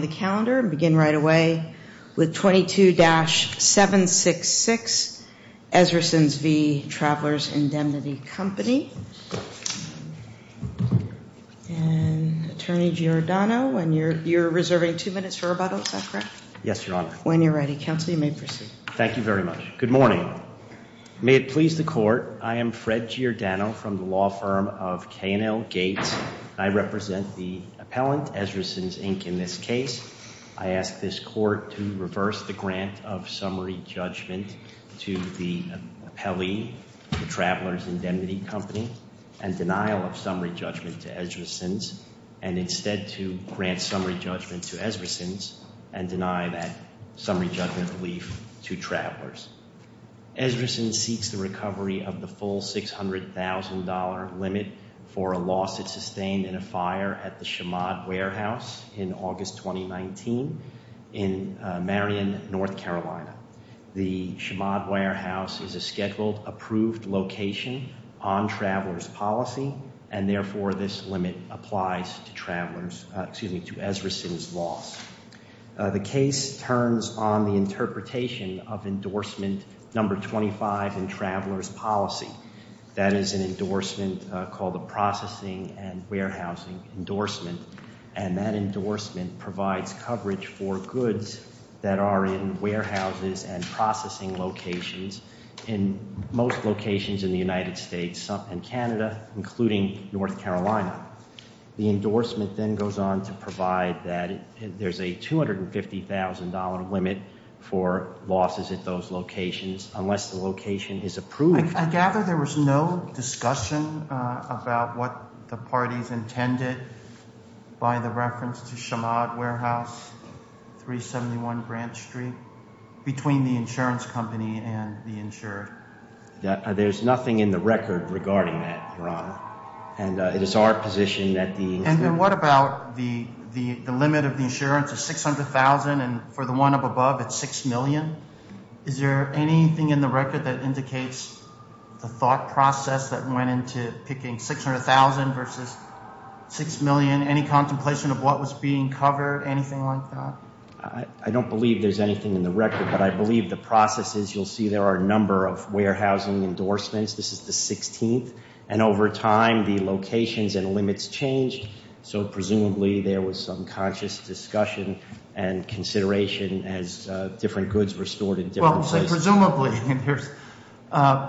right away with 22-766 Ezrasons v. Travelers Indemnity Company. Attorney Giordano, you're reserving two minutes for rebuttal, is that correct? Yes, Your Honor. When you're ready, counsel, you may proceed. Thank you very much. Good morning. May it please the court, I am Fred Giordano from the law firm of K&L Gates. I represent the appellant, Ezrasons, Inc., in this case. I'm here today to present a motion to approve the grant of summary judgment to the appellee, The Travelers Indemnity Company, and denial of summary judgment to Ezrasons, and instead to grant summary judgment to Ezrasons and deny that summary judgment relief to travelers. Ezrasons seeks the recovery of the full $600,000 limit for a $600,000 loan to the Travelers Indemnity Company. I'm here today to present a motion to approve the grant of summary judgment to the appellant, The Travelers Indemnity Company, and denial of summary judgment to Ezrasons, and instead to grant summary judgment to Ezrasons, and that is an endorsement called the Processing and Warehousing Endorsement, and that endorsement provides coverage for goods that are in warehouses and processing locations in most locations in the United States and Canada, including North Carolina. The endorsement then goes on to provide that there's a $250,000 limit for losses at those locations, unless the location is approved. I gather there was no discussion about what the parties intended by the reference to Shamad Warehouse, 371 Grant Street, between the insurance company and the insurer? There's nothing in the record regarding that, Your Honor, and it is our position that the And what about the limit of the insurance of $600,000 and for the one up above, it's $6 million? Is there anything in the record that shows the thought process that went into picking $600,000 versus $6 million, any contemplation of what was being covered, anything like that? I don't believe there's anything in the record, but I believe the process is, you'll see there are a number of warehousing endorsements. This is the 16th, and over time, the locations and limits changed, so presumably there was some conscious discussion and consideration as different goods were stored in different places. Well, I'm saying presumably,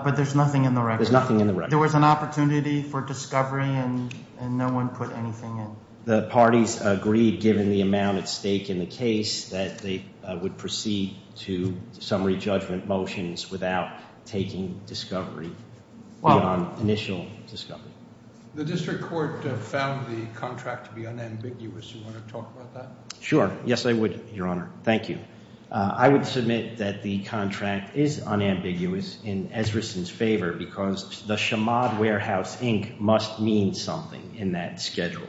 but there's a number of locations, and there's nothing in the record. There was an opportunity for discovery, and no one put anything in. The parties agreed, given the amount at stake in the case, that they would proceed to summary judgment motions without taking discovery on initial discovery. The District Court found the contract to be unambiguous. Do you want to talk about that? Sure. Yes, I would, Your Honor. Thank you. I would submit that the contract is unambiguous. In Ezrason's case, there was a number of locations, and I would say I'm in favor, because the Chamad Warehouse Inc. must mean something in that schedule.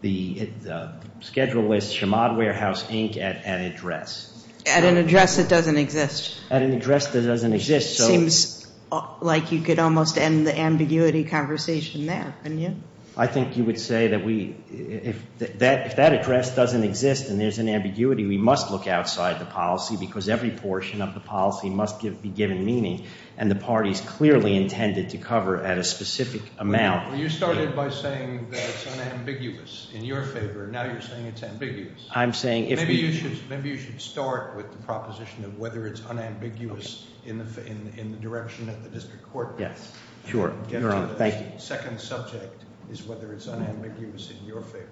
The schedule is Chamad Warehouse Inc. at an address. At an address that doesn't exist. At an address that doesn't exist. Seems like you could almost end the ambiguity conversation there, wouldn't you? I think you would say that if that address doesn't exist and there's an ambiguity, we must look outside the policy, because every portion of the policy must be given meaning, and the parties clearly intended to cover at a specific amount. You started by saying that it's unambiguous in your favor. Now you're saying it's ambiguous. Maybe you should start with the proposition of whether it's unambiguous in the direction of the District Court. Yes, sure. Your Honor, thank you. The second subject is whether it's unambiguous in your favor.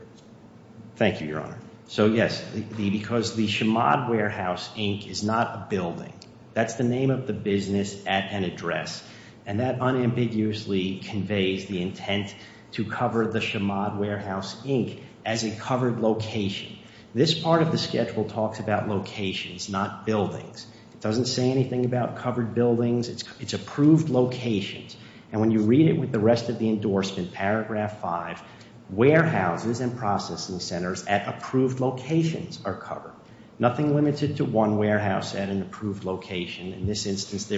Thank you, Your Honor. So yes, because the Chamad Warehouse Inc. is not a building. That's the name of the business at an address. The name of the business at an address. And that unambiguously conveys the intent to cover the Chamad Warehouse Inc. as a covered location. This part of the schedule talks about locations, not buildings. It doesn't say anything about covered buildings. It's approved locations. And when you read it with the rest of the endorsement, paragraph 5, warehouses and processing centers at approved locations are covered. Nothing limited to one warehouse at an approved location. In this case,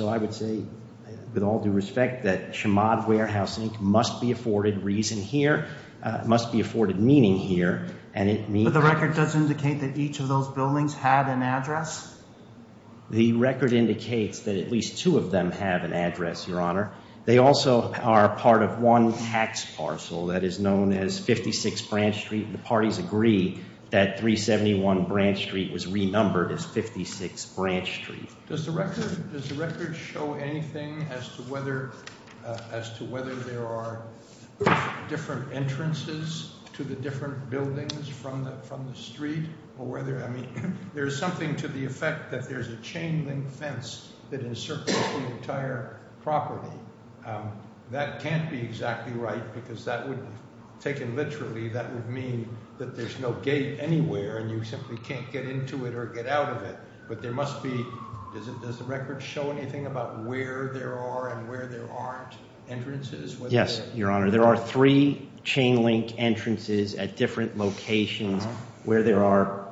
I would say, with all due respect, that Chamad Warehouse Inc. must be afforded reason here. It must be afforded meaning here. But the record doesn't indicate that each of those buildings had an address? The record indicates that at least two of them have an address, Your Honor. They also are part of one tax parcel that is known as 56 Branch Street. The parties agree that 371 Branch Street was renumbered as 56 Branch Street. Does the record show anything about the number of entrances to the different buildings from the street? There's something to the effect that there's a chain-linked fence that encircles the entire property. That can't be exactly right because that would mean that there's no gate anywhere and you simply can't get into it or get out of it. But there must be... Does the record show anything about where there are and where there aren't entrances? Yes, Your Honor. There are three chain-linked entrances at different locations where there are...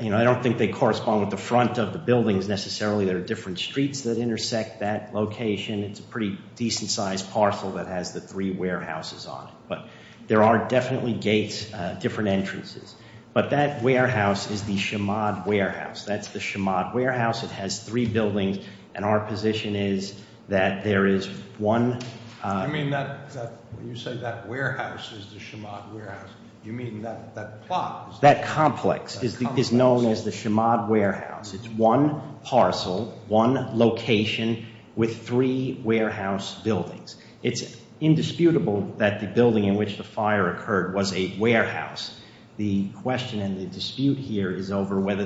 I don't think they correspond with the front of the buildings necessarily. There are different streets that intersect that location. It's a pretty decent-sized parcel that has the three warehouses on it. But there are definitely gates, different entrances. But that warehouse is the Chamad Warehouse. That's the Chamad Warehouse. It has three buildings and our position is that there is one... You say that warehouse is the Chamad Warehouse. You mean that plot? That complex is known as the Chamad Warehouse. It's one parcel, one location with three warehouse buildings. It's indisputable that the building in which the fire occurred was a warehouse. The question and the answer is, is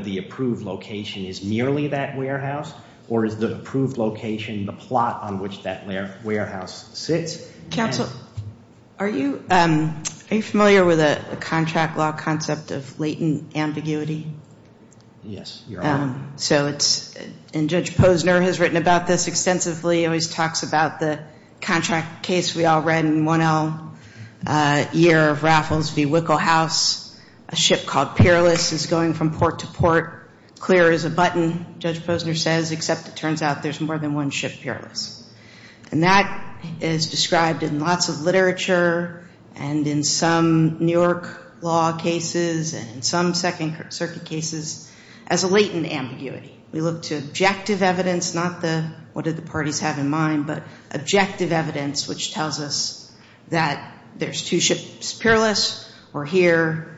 the approved location is merely that warehouse or is the approved location the plot on which that warehouse sits? Counsel, are you familiar with a contract law concept of latent ambiguity? Yes, Your Honor. So it's... And Judge Posner has written about this extensively. He always talks about the contract case we all read in 1L, Year of Raffles v. Clear as a Button, Judge Posner says, except it turns out there's more than one ship peerless. And that is described in lots of literature and in some New York law cases and some Second Circuit cases as a latent ambiguity. We look to objective evidence, not the what did the parties have in mind, but objective evidence which tells us that there's two ships peerless or here.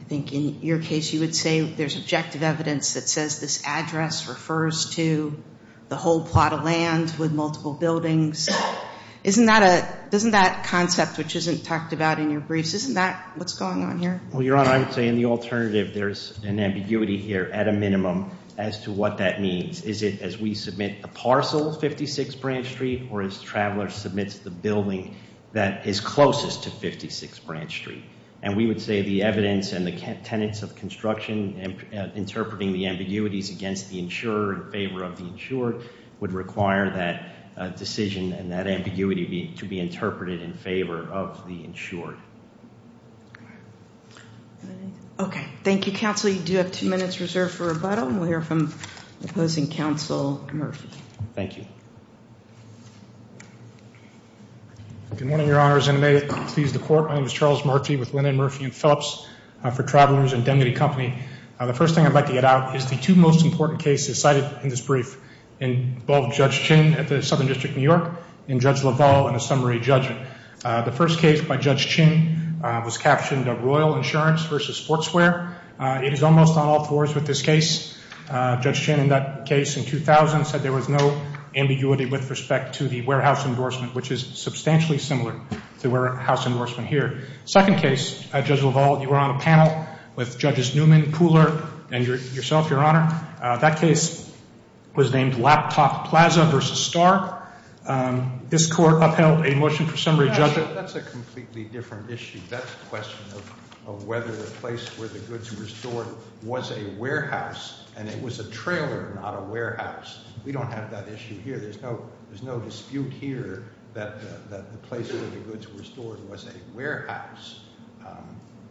I think in your case you would say there's objective evidence that says there's two ships peerless or that says this address refers to the whole plot of land with multiple buildings. Isn't that a... Doesn't that concept, which isn't talked about in your briefs, isn't that what's going on here? Well, Your Honor, I would say in the alternative there's an ambiguity here at a minimum as to what that means. Is it as we submit the parcel of 56 Branch Street or as the traveler submits the building that is closest to 56 Branch Street? And we would say the evidence and the tenets of construction interpreting the ambiguities against the insurer in favor of the insured would require that decision and that ambiguity to be interpreted in favor of the insured. Okay. Thank you, Counsel. You do have two minutes reserved for rebuttal and we'll hear from opposing counsel Murphy. Thank you. Good morning, Your Honor, as I may please the board of travelers and Denny Company, the first thing I'd like to get out is the two most important cases cited in this brief involve Judge Chin at the Southern District of New York and Judge LaValle in a summary judgment. The first case by Judge Chin was captioned a Royal Insurance versus Sportswear. It is almost on all fours with this case. Judge Chin in that case in 2000 said there was no ambiguity with respect to the warehouse endorsement, which is substantially similar to warehouse endorsement here. Second case, Judge LaValle, you were on a panel with Judges Newman, Cooler and yourself, Your Honor. That case was named Laptop Plaza versus Star. This court upheld a motion for summary judgment. That's a completely different issue. That's a question of whether the place where the goods were stored was a warehouse and it was a trailer, not a warehouse. We don't have that issue here. There's no dispute here that the place where the goods were stored was a warehouse.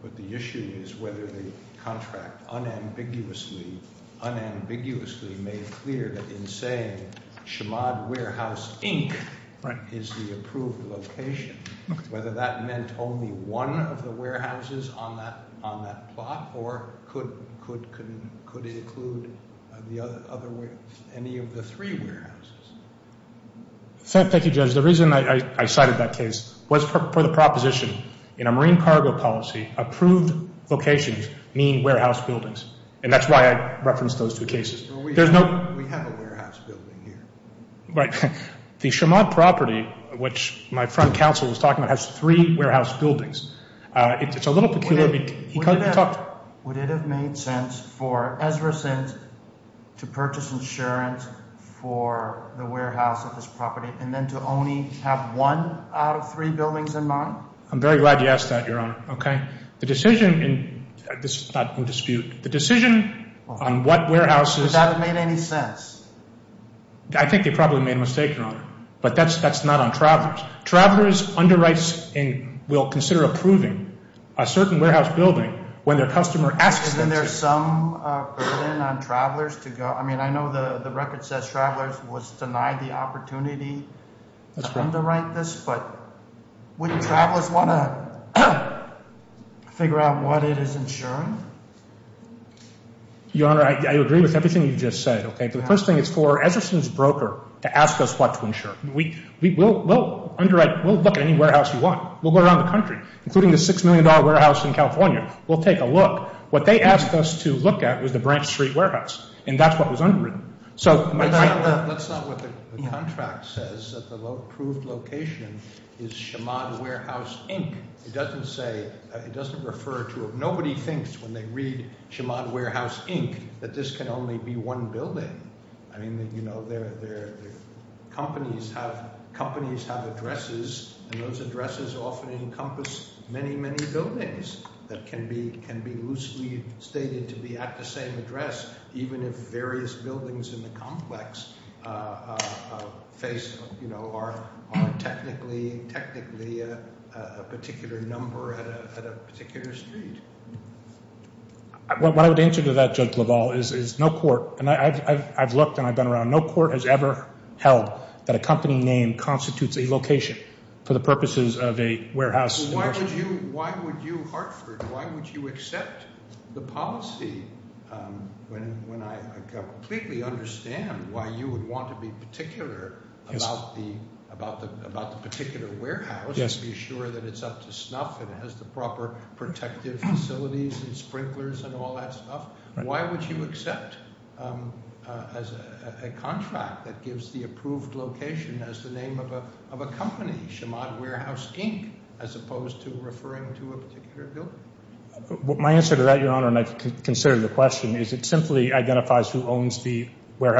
But the issue is whether the contract unambiguously made clear that in saying Chamad Warehouse, Inc. is the approved location, whether that meant only one of the warehouses on that plot or could include any of the three warehouses. Thank you, Judge. The reason I cited that case was for the proposition in a marine cargo policy, approved locations mean warehouse buildings. And that's why I referenced those two cases. We have a warehouse building here. The Chamad property, which my front counsel was talking about, has three warehouse buildings. It's a little peculiar because... Would it have made sense for Ezra Sins to purchase insurance for the warehouse of this property and then to only have one out of three buildings in mind? I'm very glad you asked that, Your Honor. The decision on what warehouses... Would that have made any sense? I think they probably made a mistake, Your Honor. But that's not on travelers. Travelers underwrites and will consider approving a certain warehouse building when their customer asks them to. And then there's some burden on travelers to go... I mean, I know the record says travelers was denied the opportunity to underwrite this, but wouldn't travelers want to figure out what it is insuring? Your Honor, I agree with everything you just said. The first thing is for Ezra Sins broker to ask us what to insure. We'll underwrite. We'll look at any warehouse you want. We'll go around the country, including the $6 million warehouse in California. We'll take a look. What they asked us to look at was the Branch Street Warehouse, and that's what was underwritten. That's not what the contract says, that the approved location is Chemad Warehouse, Inc. It doesn't say... It doesn't refer to... Nobody thinks when they read Chemad Warehouse, Inc. that this can only be one building. I mean, you know, companies have addresses, and those addresses often encompass many, many buildings that can be loosely stated to be at the same address, even if various buildings in the complex are technically a particular number at a particular street. What I would answer to that, Judge LaValle, is no court, and I've looked and I've been around, no court has ever held that a company name constitutes a location for the purposes of a warehouse. Why would you, Hartford, why would you accept the policy when I completely understand why you would want to be particular about the particular warehouse and be sure that it's up to snuff and has the proper protective facilities and sprinklers and all that stuff? Why would you accept a contract that gives the approved location as the name of a company, Chemad Warehouse, Inc., as opposed to referring to a particular building? My answer to that, Your Honor, and I've considered the question, is it simply identifies who owns the other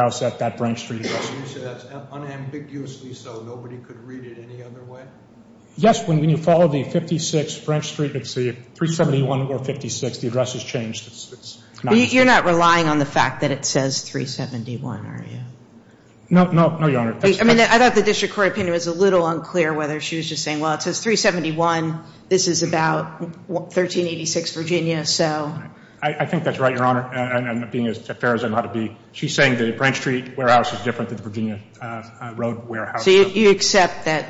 one? Yes, when you follow the 56 French Street, let's see, 371 or 56, the address is changed. You're not relying on the fact that it says 371, are you? No, no, no, Your Honor. I mean, I thought the district court opinion was a little unclear whether she was just saying, well, it says 371, this is about 1386 Virginia, so. I think that's right, Your Honor, and being as fair as I know how to be, she's saying the French Street warehouse is different than the Virginia Road warehouse. So you accept that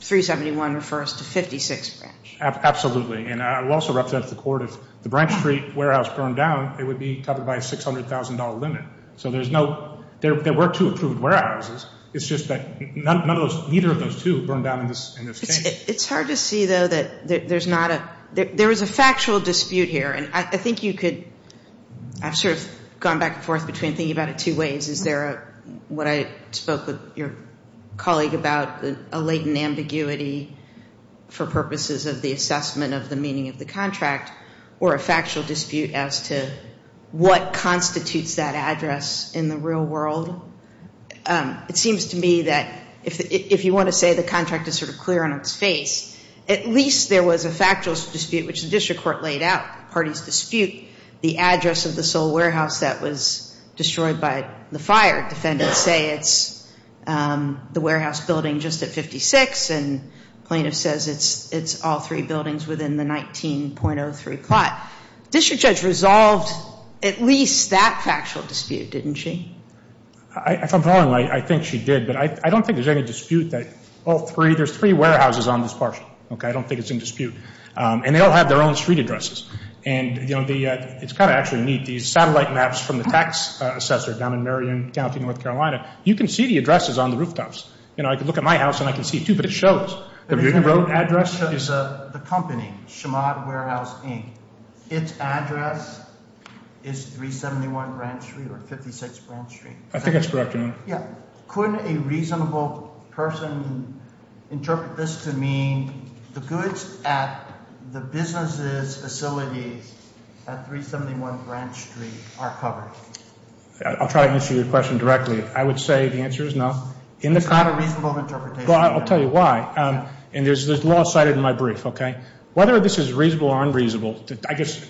371 refers to 56 French? Absolutely, and I will also represent the court if the French Street warehouse burned down, it would be covered by a $600,000 limit. So there's no, there were two approved warehouses, it's just that none of those, neither of those two burned down in this case. It's hard to see, though, that there's not a, there is a factual dispute here, and I think you could, I've sort of gone back and forth between thinking about it two ways. Is there a, what I spoke with your colleague about, a latent ambiguity for purposes of the assessment of the meaning of the contract, or a factual dispute as to what constitutes that address in the real world? It seems to me that if you want to say the contract is sort of clear on its face, at least there was a factual dispute, which the district court laid out. The party's dispute, the address of the sole warehouse that was destroyed by the fire defendants say it's the warehouse building just at 56, and plaintiff says it's all three buildings within the 19.03 plot. District Judge resolved at least that factual dispute, didn't she? If I'm wrong, I think she did, but I don't think there's any dispute that all three, there's three warehouses on this parcel, okay? I don't think it's in dispute. And they all have their own street addresses. And, you know, it's kind of actually neat. These satellite maps from the tax assessor down in Marion County, North Carolina, you can see the addresses on the rooftops. You know, I can look at my house and I can see two, but it shows. The Virginia Road address is the company, Chemad Warehouse, Inc. Its address is 371 Branch Street or 56 Branch Street. I think that's correct. Yeah. Couldn't a reasonable person interpret this to mean the goods at the business's facility at 371 Branch Street are covered? I'll try to answer your question directly. I would say the answer is no. It's not a reasonable interpretation. I'll tell you why. And there's law cited in my brief, okay? Whether this is reasonable or unreasonable, I guess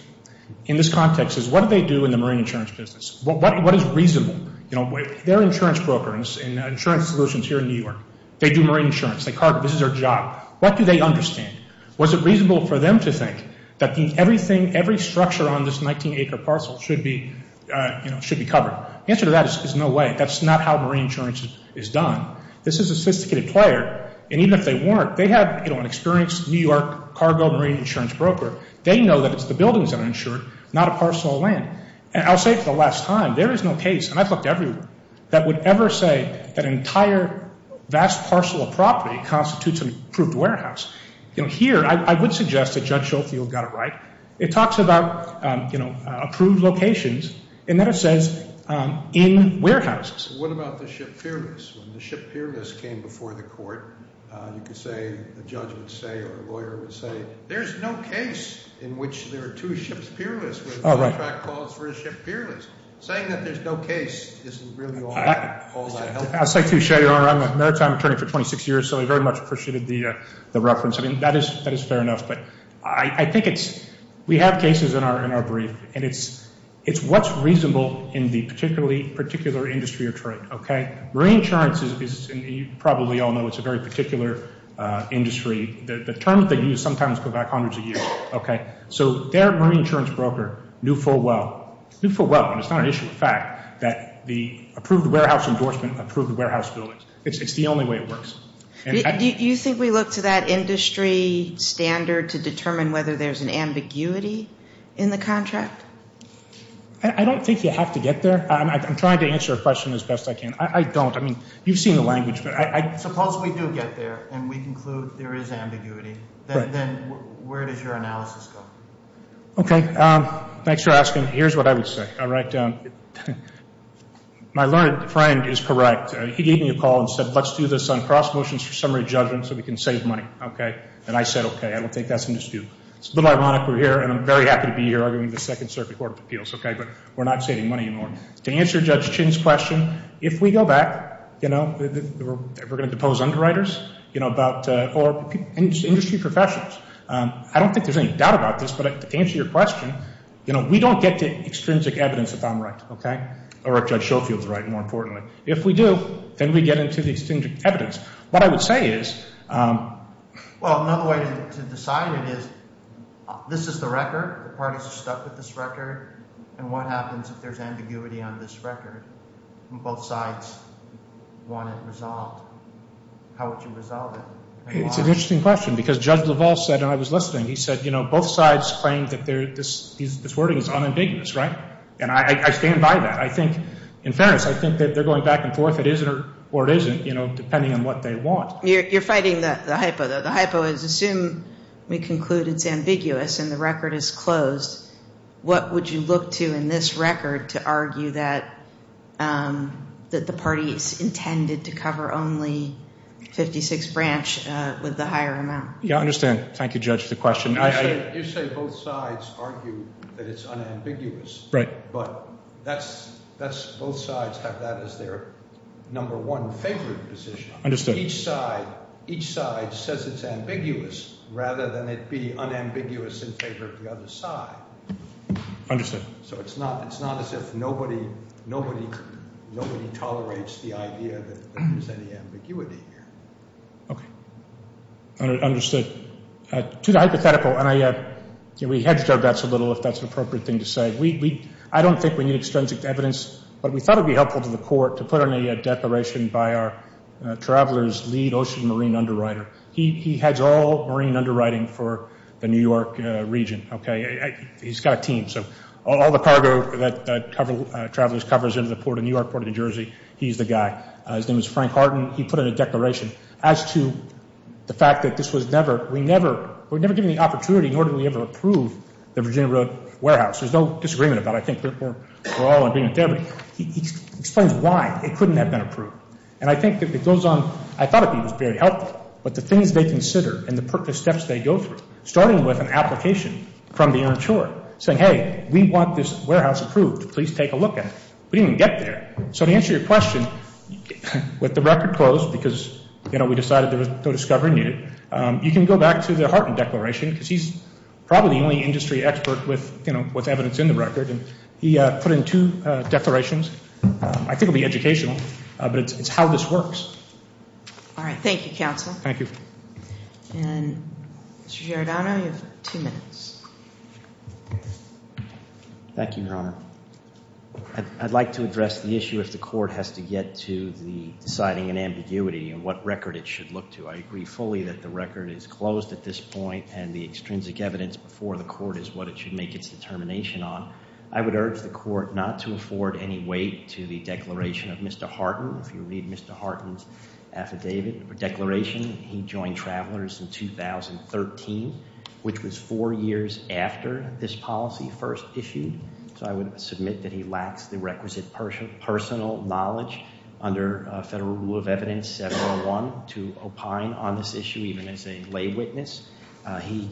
in this context is what do they do in the marine insurance business? What is reasonable? You know, they're insurance brokers and insurance solutions here in New York. They do marine insurance. This is their job. What do they understand? Was it reasonable for them to think that everything, every structure on this 19-acre parcel should be, you know, should be covered? The answer to that is no way. That's not how marine insurance is done. This is a sophisticated player. And even if they weren't, they have, you know, an experienced New York cargo marine insurance broker. They know that it's the buildings that are insured, not a parcel of land. And I'll say for the last time, there is no case, and I've looked everywhere, that would ever say that an entire vast parcel of property constitutes an approved warehouse. You know, here I would suggest that Judge Schofield got it right. He said, you know, there are two locations, and then it says, in warehouses. What about the ship fearless? When the ship fearless came before the court, you could say, the judge would say or a lawyer would say, there's no case in which there are two ships fearless. Oh, right. Saying that there's no case isn't really all that helpful. I'd like to show you, I'm a maritime attorney for 26 years, so I very much appreciated the reference. I mean, that is fair enough, but I think it's, we have cases in our brief, and it's what's reasonable in the particular industry or trade, okay? Marine insurance is, and you probably all know it's a very particular industry. The terms they use sometimes go back hundreds of years, okay? So their marine insurance broker knew full well, knew full well, and it's not an issue of fact, that the approved warehouse endorsement It's the only way it works. Do you think we look to that industry standard to determine whether there's an ambiguity in the contract? I don't think you have to get there. I'm trying to answer a question as best I can. I don't. I mean, you've seen the language, but I Suppose we do get there, and we conclude there is ambiguity, then where does your analysis go? Okay, thanks for asking. Here's what I would say. All right, my learned friend is correct. He gave me a call and said, let's do this on cross motions for summary judgment so we can save money, okay? And I said, okay, I don't think that's an issue. It's a little ironic we're here, and I'm very happy to be here arguing the Second Circuit Court of Appeals, okay, but we're not saving money anymore. To answer Judge Chin's question, if we go back, you know, we're going to depose underwriters, you know, or industry professionals. I don't think there's any doubt about this, but to answer your question, you know, we don't get to extrinsic evidence if I'm right, okay, or if Judge Schofield is right, more importantly. If we do, then we get into the extrinsic evidence. What I would say is, well, another way to decide it is this is the record, the parties are stuck with this record, and what happens if there's ambiguity on this record and both sides want it resolved? How would you resolve it? It's an interesting question because Judge LaValle said, and I was listening, he said, you know, both sides claim that this wording is unambiguous, right, and I stand by that. I think, in fairness, I think that they're going back and forth. It is or it isn't, you know, depending on what they want. You're fighting the hypo, though. The hypo is assume we conclude it's ambiguous and the record is closed. What would you look to in this record to argue that the parties intended to cover only 56 branch with the higher amount? I understand. Thank you, Judge, for the question. You say both sides argue that it's unambiguous. Right. But both sides have that as their number one favorite position. Understood. Each side says it's ambiguous rather than it be unambiguous in favor of the other side. Understood. So it's not as if nobody tolerates the idea that there's any ambiguity here. Okay. Understood. To the hypothetical, and we hedged our bets a little, if that's an appropriate thing to say, I don't think we need extrinsic evidence, but we thought it would be helpful to the court to put on a declaration by our traveler's lead ocean marine underwriter. He heads all marine underwriting for the New York region. Okay. He's got a team. So all the cargo that travelers covers into the New York Port of New Jersey, he's the guy. His name is Frank Hardin. As to the fact that this was never, we never, we were never given the opportunity, nor did we ever approve the Virginia Road warehouse. There's no disagreement about it. I think we're all in agreement there. But he explains why it couldn't have been approved. And I think that it goes on, I thought it would be very helpful, but the things they consider and the steps they go through, starting with an application from the interior saying, hey, we want this warehouse approved. Please take a look at it. We didn't even get there. So to answer your question, with the record closed because, you know, we decided to go discover a new, you can go back to the Hardin declaration because he's probably the only industry expert with, you know, with evidence in the record. And he put in two declarations. I think it will be educational, but it's how this works. All right. Thank you, counsel. Thank you. And Mr. Giordano, you have two minutes. Thank you, Your Honor. I'd like to address the issue if the court has to get to the deciding and ambiguity and what record it should look to. I agree fully that the record is closed at this point and the extrinsic evidence before the court is what it should make its determination on. I would urge the court not to afford any weight to the declaration of Mr. Hardin. If you read Mr. Hardin's affidavit or declaration, he joined Travelers in 2013, which was four years after this policy first issued. So I would submit that he lacks the requisite personal knowledge under Federal Rule of Evidence 701 to opine on this issue even as a lay witness. He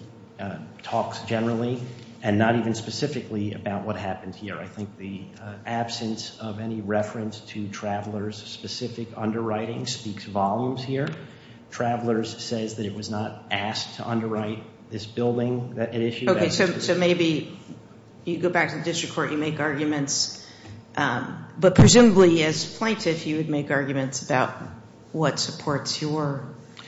talks generally and not even specifically about what happened here. I think the absence of any reference to Travelers' specific underwriting speaks volumes here. Travelers says that it was not asked to underwrite this building that it issued. Okay. So maybe you go back to the district court, you make arguments. But presumably as plaintiff, you would make arguments about what supports your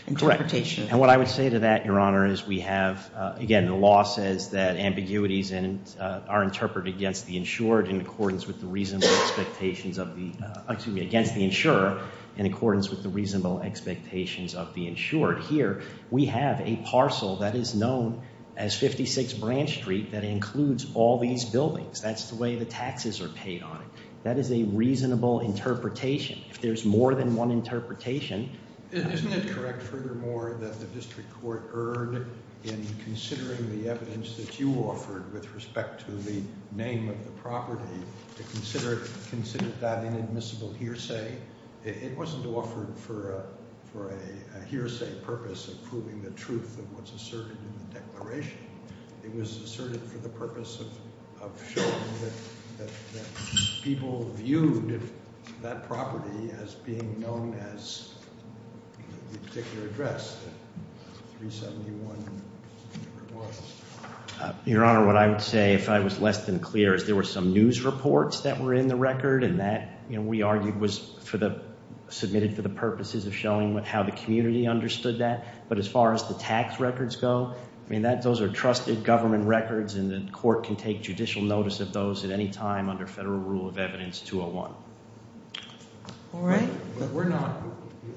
interpretation. Correct. And what I would say to that, Your Honor, is we have, again, the law says that ambiguities are interpreted against the insured in accordance with the reasonable expectations of the, in accordance with the reasonable expectations of the insured. Here, we have a parcel that is known as 56 Branch Street that includes all these buildings. That's the way the taxes are paid on it. That is a reasonable interpretation. If there's more than one interpretation. Isn't it correct, furthermore, that the district court erred in considering the evidence that you offered with respect to the name of the property, to consider it considered that inadmissible hearsay? It wasn't offered for a hearsay purpose of proving the truth of what's asserted in the declaration. It was asserted for the purpose of showing that people viewed that property as being known as the particular address, 371, whatever it was. Your Honor, what I would say, if I was less than clear, is there were some news reports that were in the record, and that we argued was submitted for the purposes of showing how the community understood that. But as far as the tax records go, those are trusted government records, and the court can take judicial notice of those at any time under federal rule of evidence 201. All right. But we're not,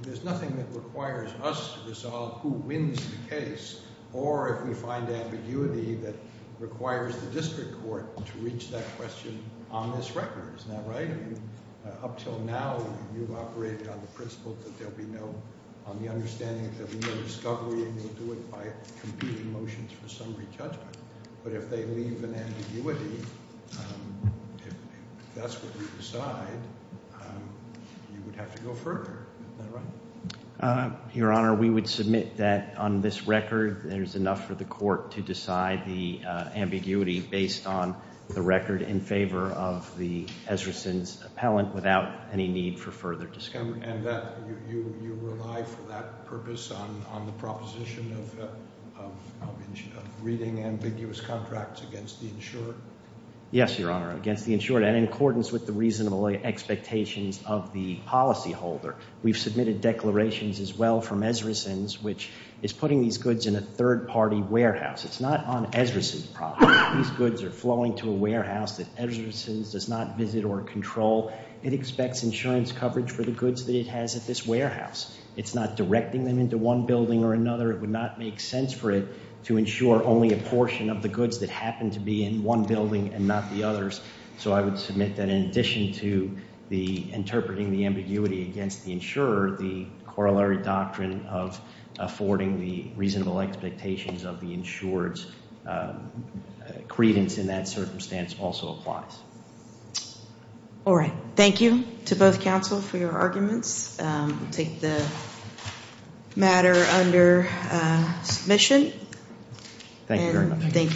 there's nothing that requires us to resolve who wins the case, or if we find ambiguity that requires the district court to reach that question on this record. Isn't that right? Up till now, you've operated on the principle that there'll be no, on the understanding that there'll be no discovery, and you'll do it by competing motions for summary judgment. But if they leave an ambiguity, if that's what we decide, you would have to go further. Isn't that right? Your Honor, we would submit that on this record, there's enough for the court to decide the ambiguity based on the record in Ezrason's appellant without any need for further discovery. And that you rely for that purpose on the proposition of reading ambiguous contracts against the insured? Yes, Your Honor, against the insured, and in accordance with the reasonable expectations of the policyholder. We've submitted declarations as well from Ezrason's, which is putting these goods in a third-party warehouse. It's not on Ezrason's property. These goods are flowing to a warehouse that Ezrason's does not visit or control. It expects insurance coverage for the goods that it has at this warehouse. It's not directing them into one building or another. It would not make sense for it to insure only a portion of the goods that happen to be in one building and not the others. So I would submit that in addition to the interpreting the ambiguity against the insurer, the corollary doctrine of affording the reasonable expectations of the insured's credence in that circumstance also applies. All right. Thank you to both counsel for your arguments. I'll take the matter under submission. Thank you very much.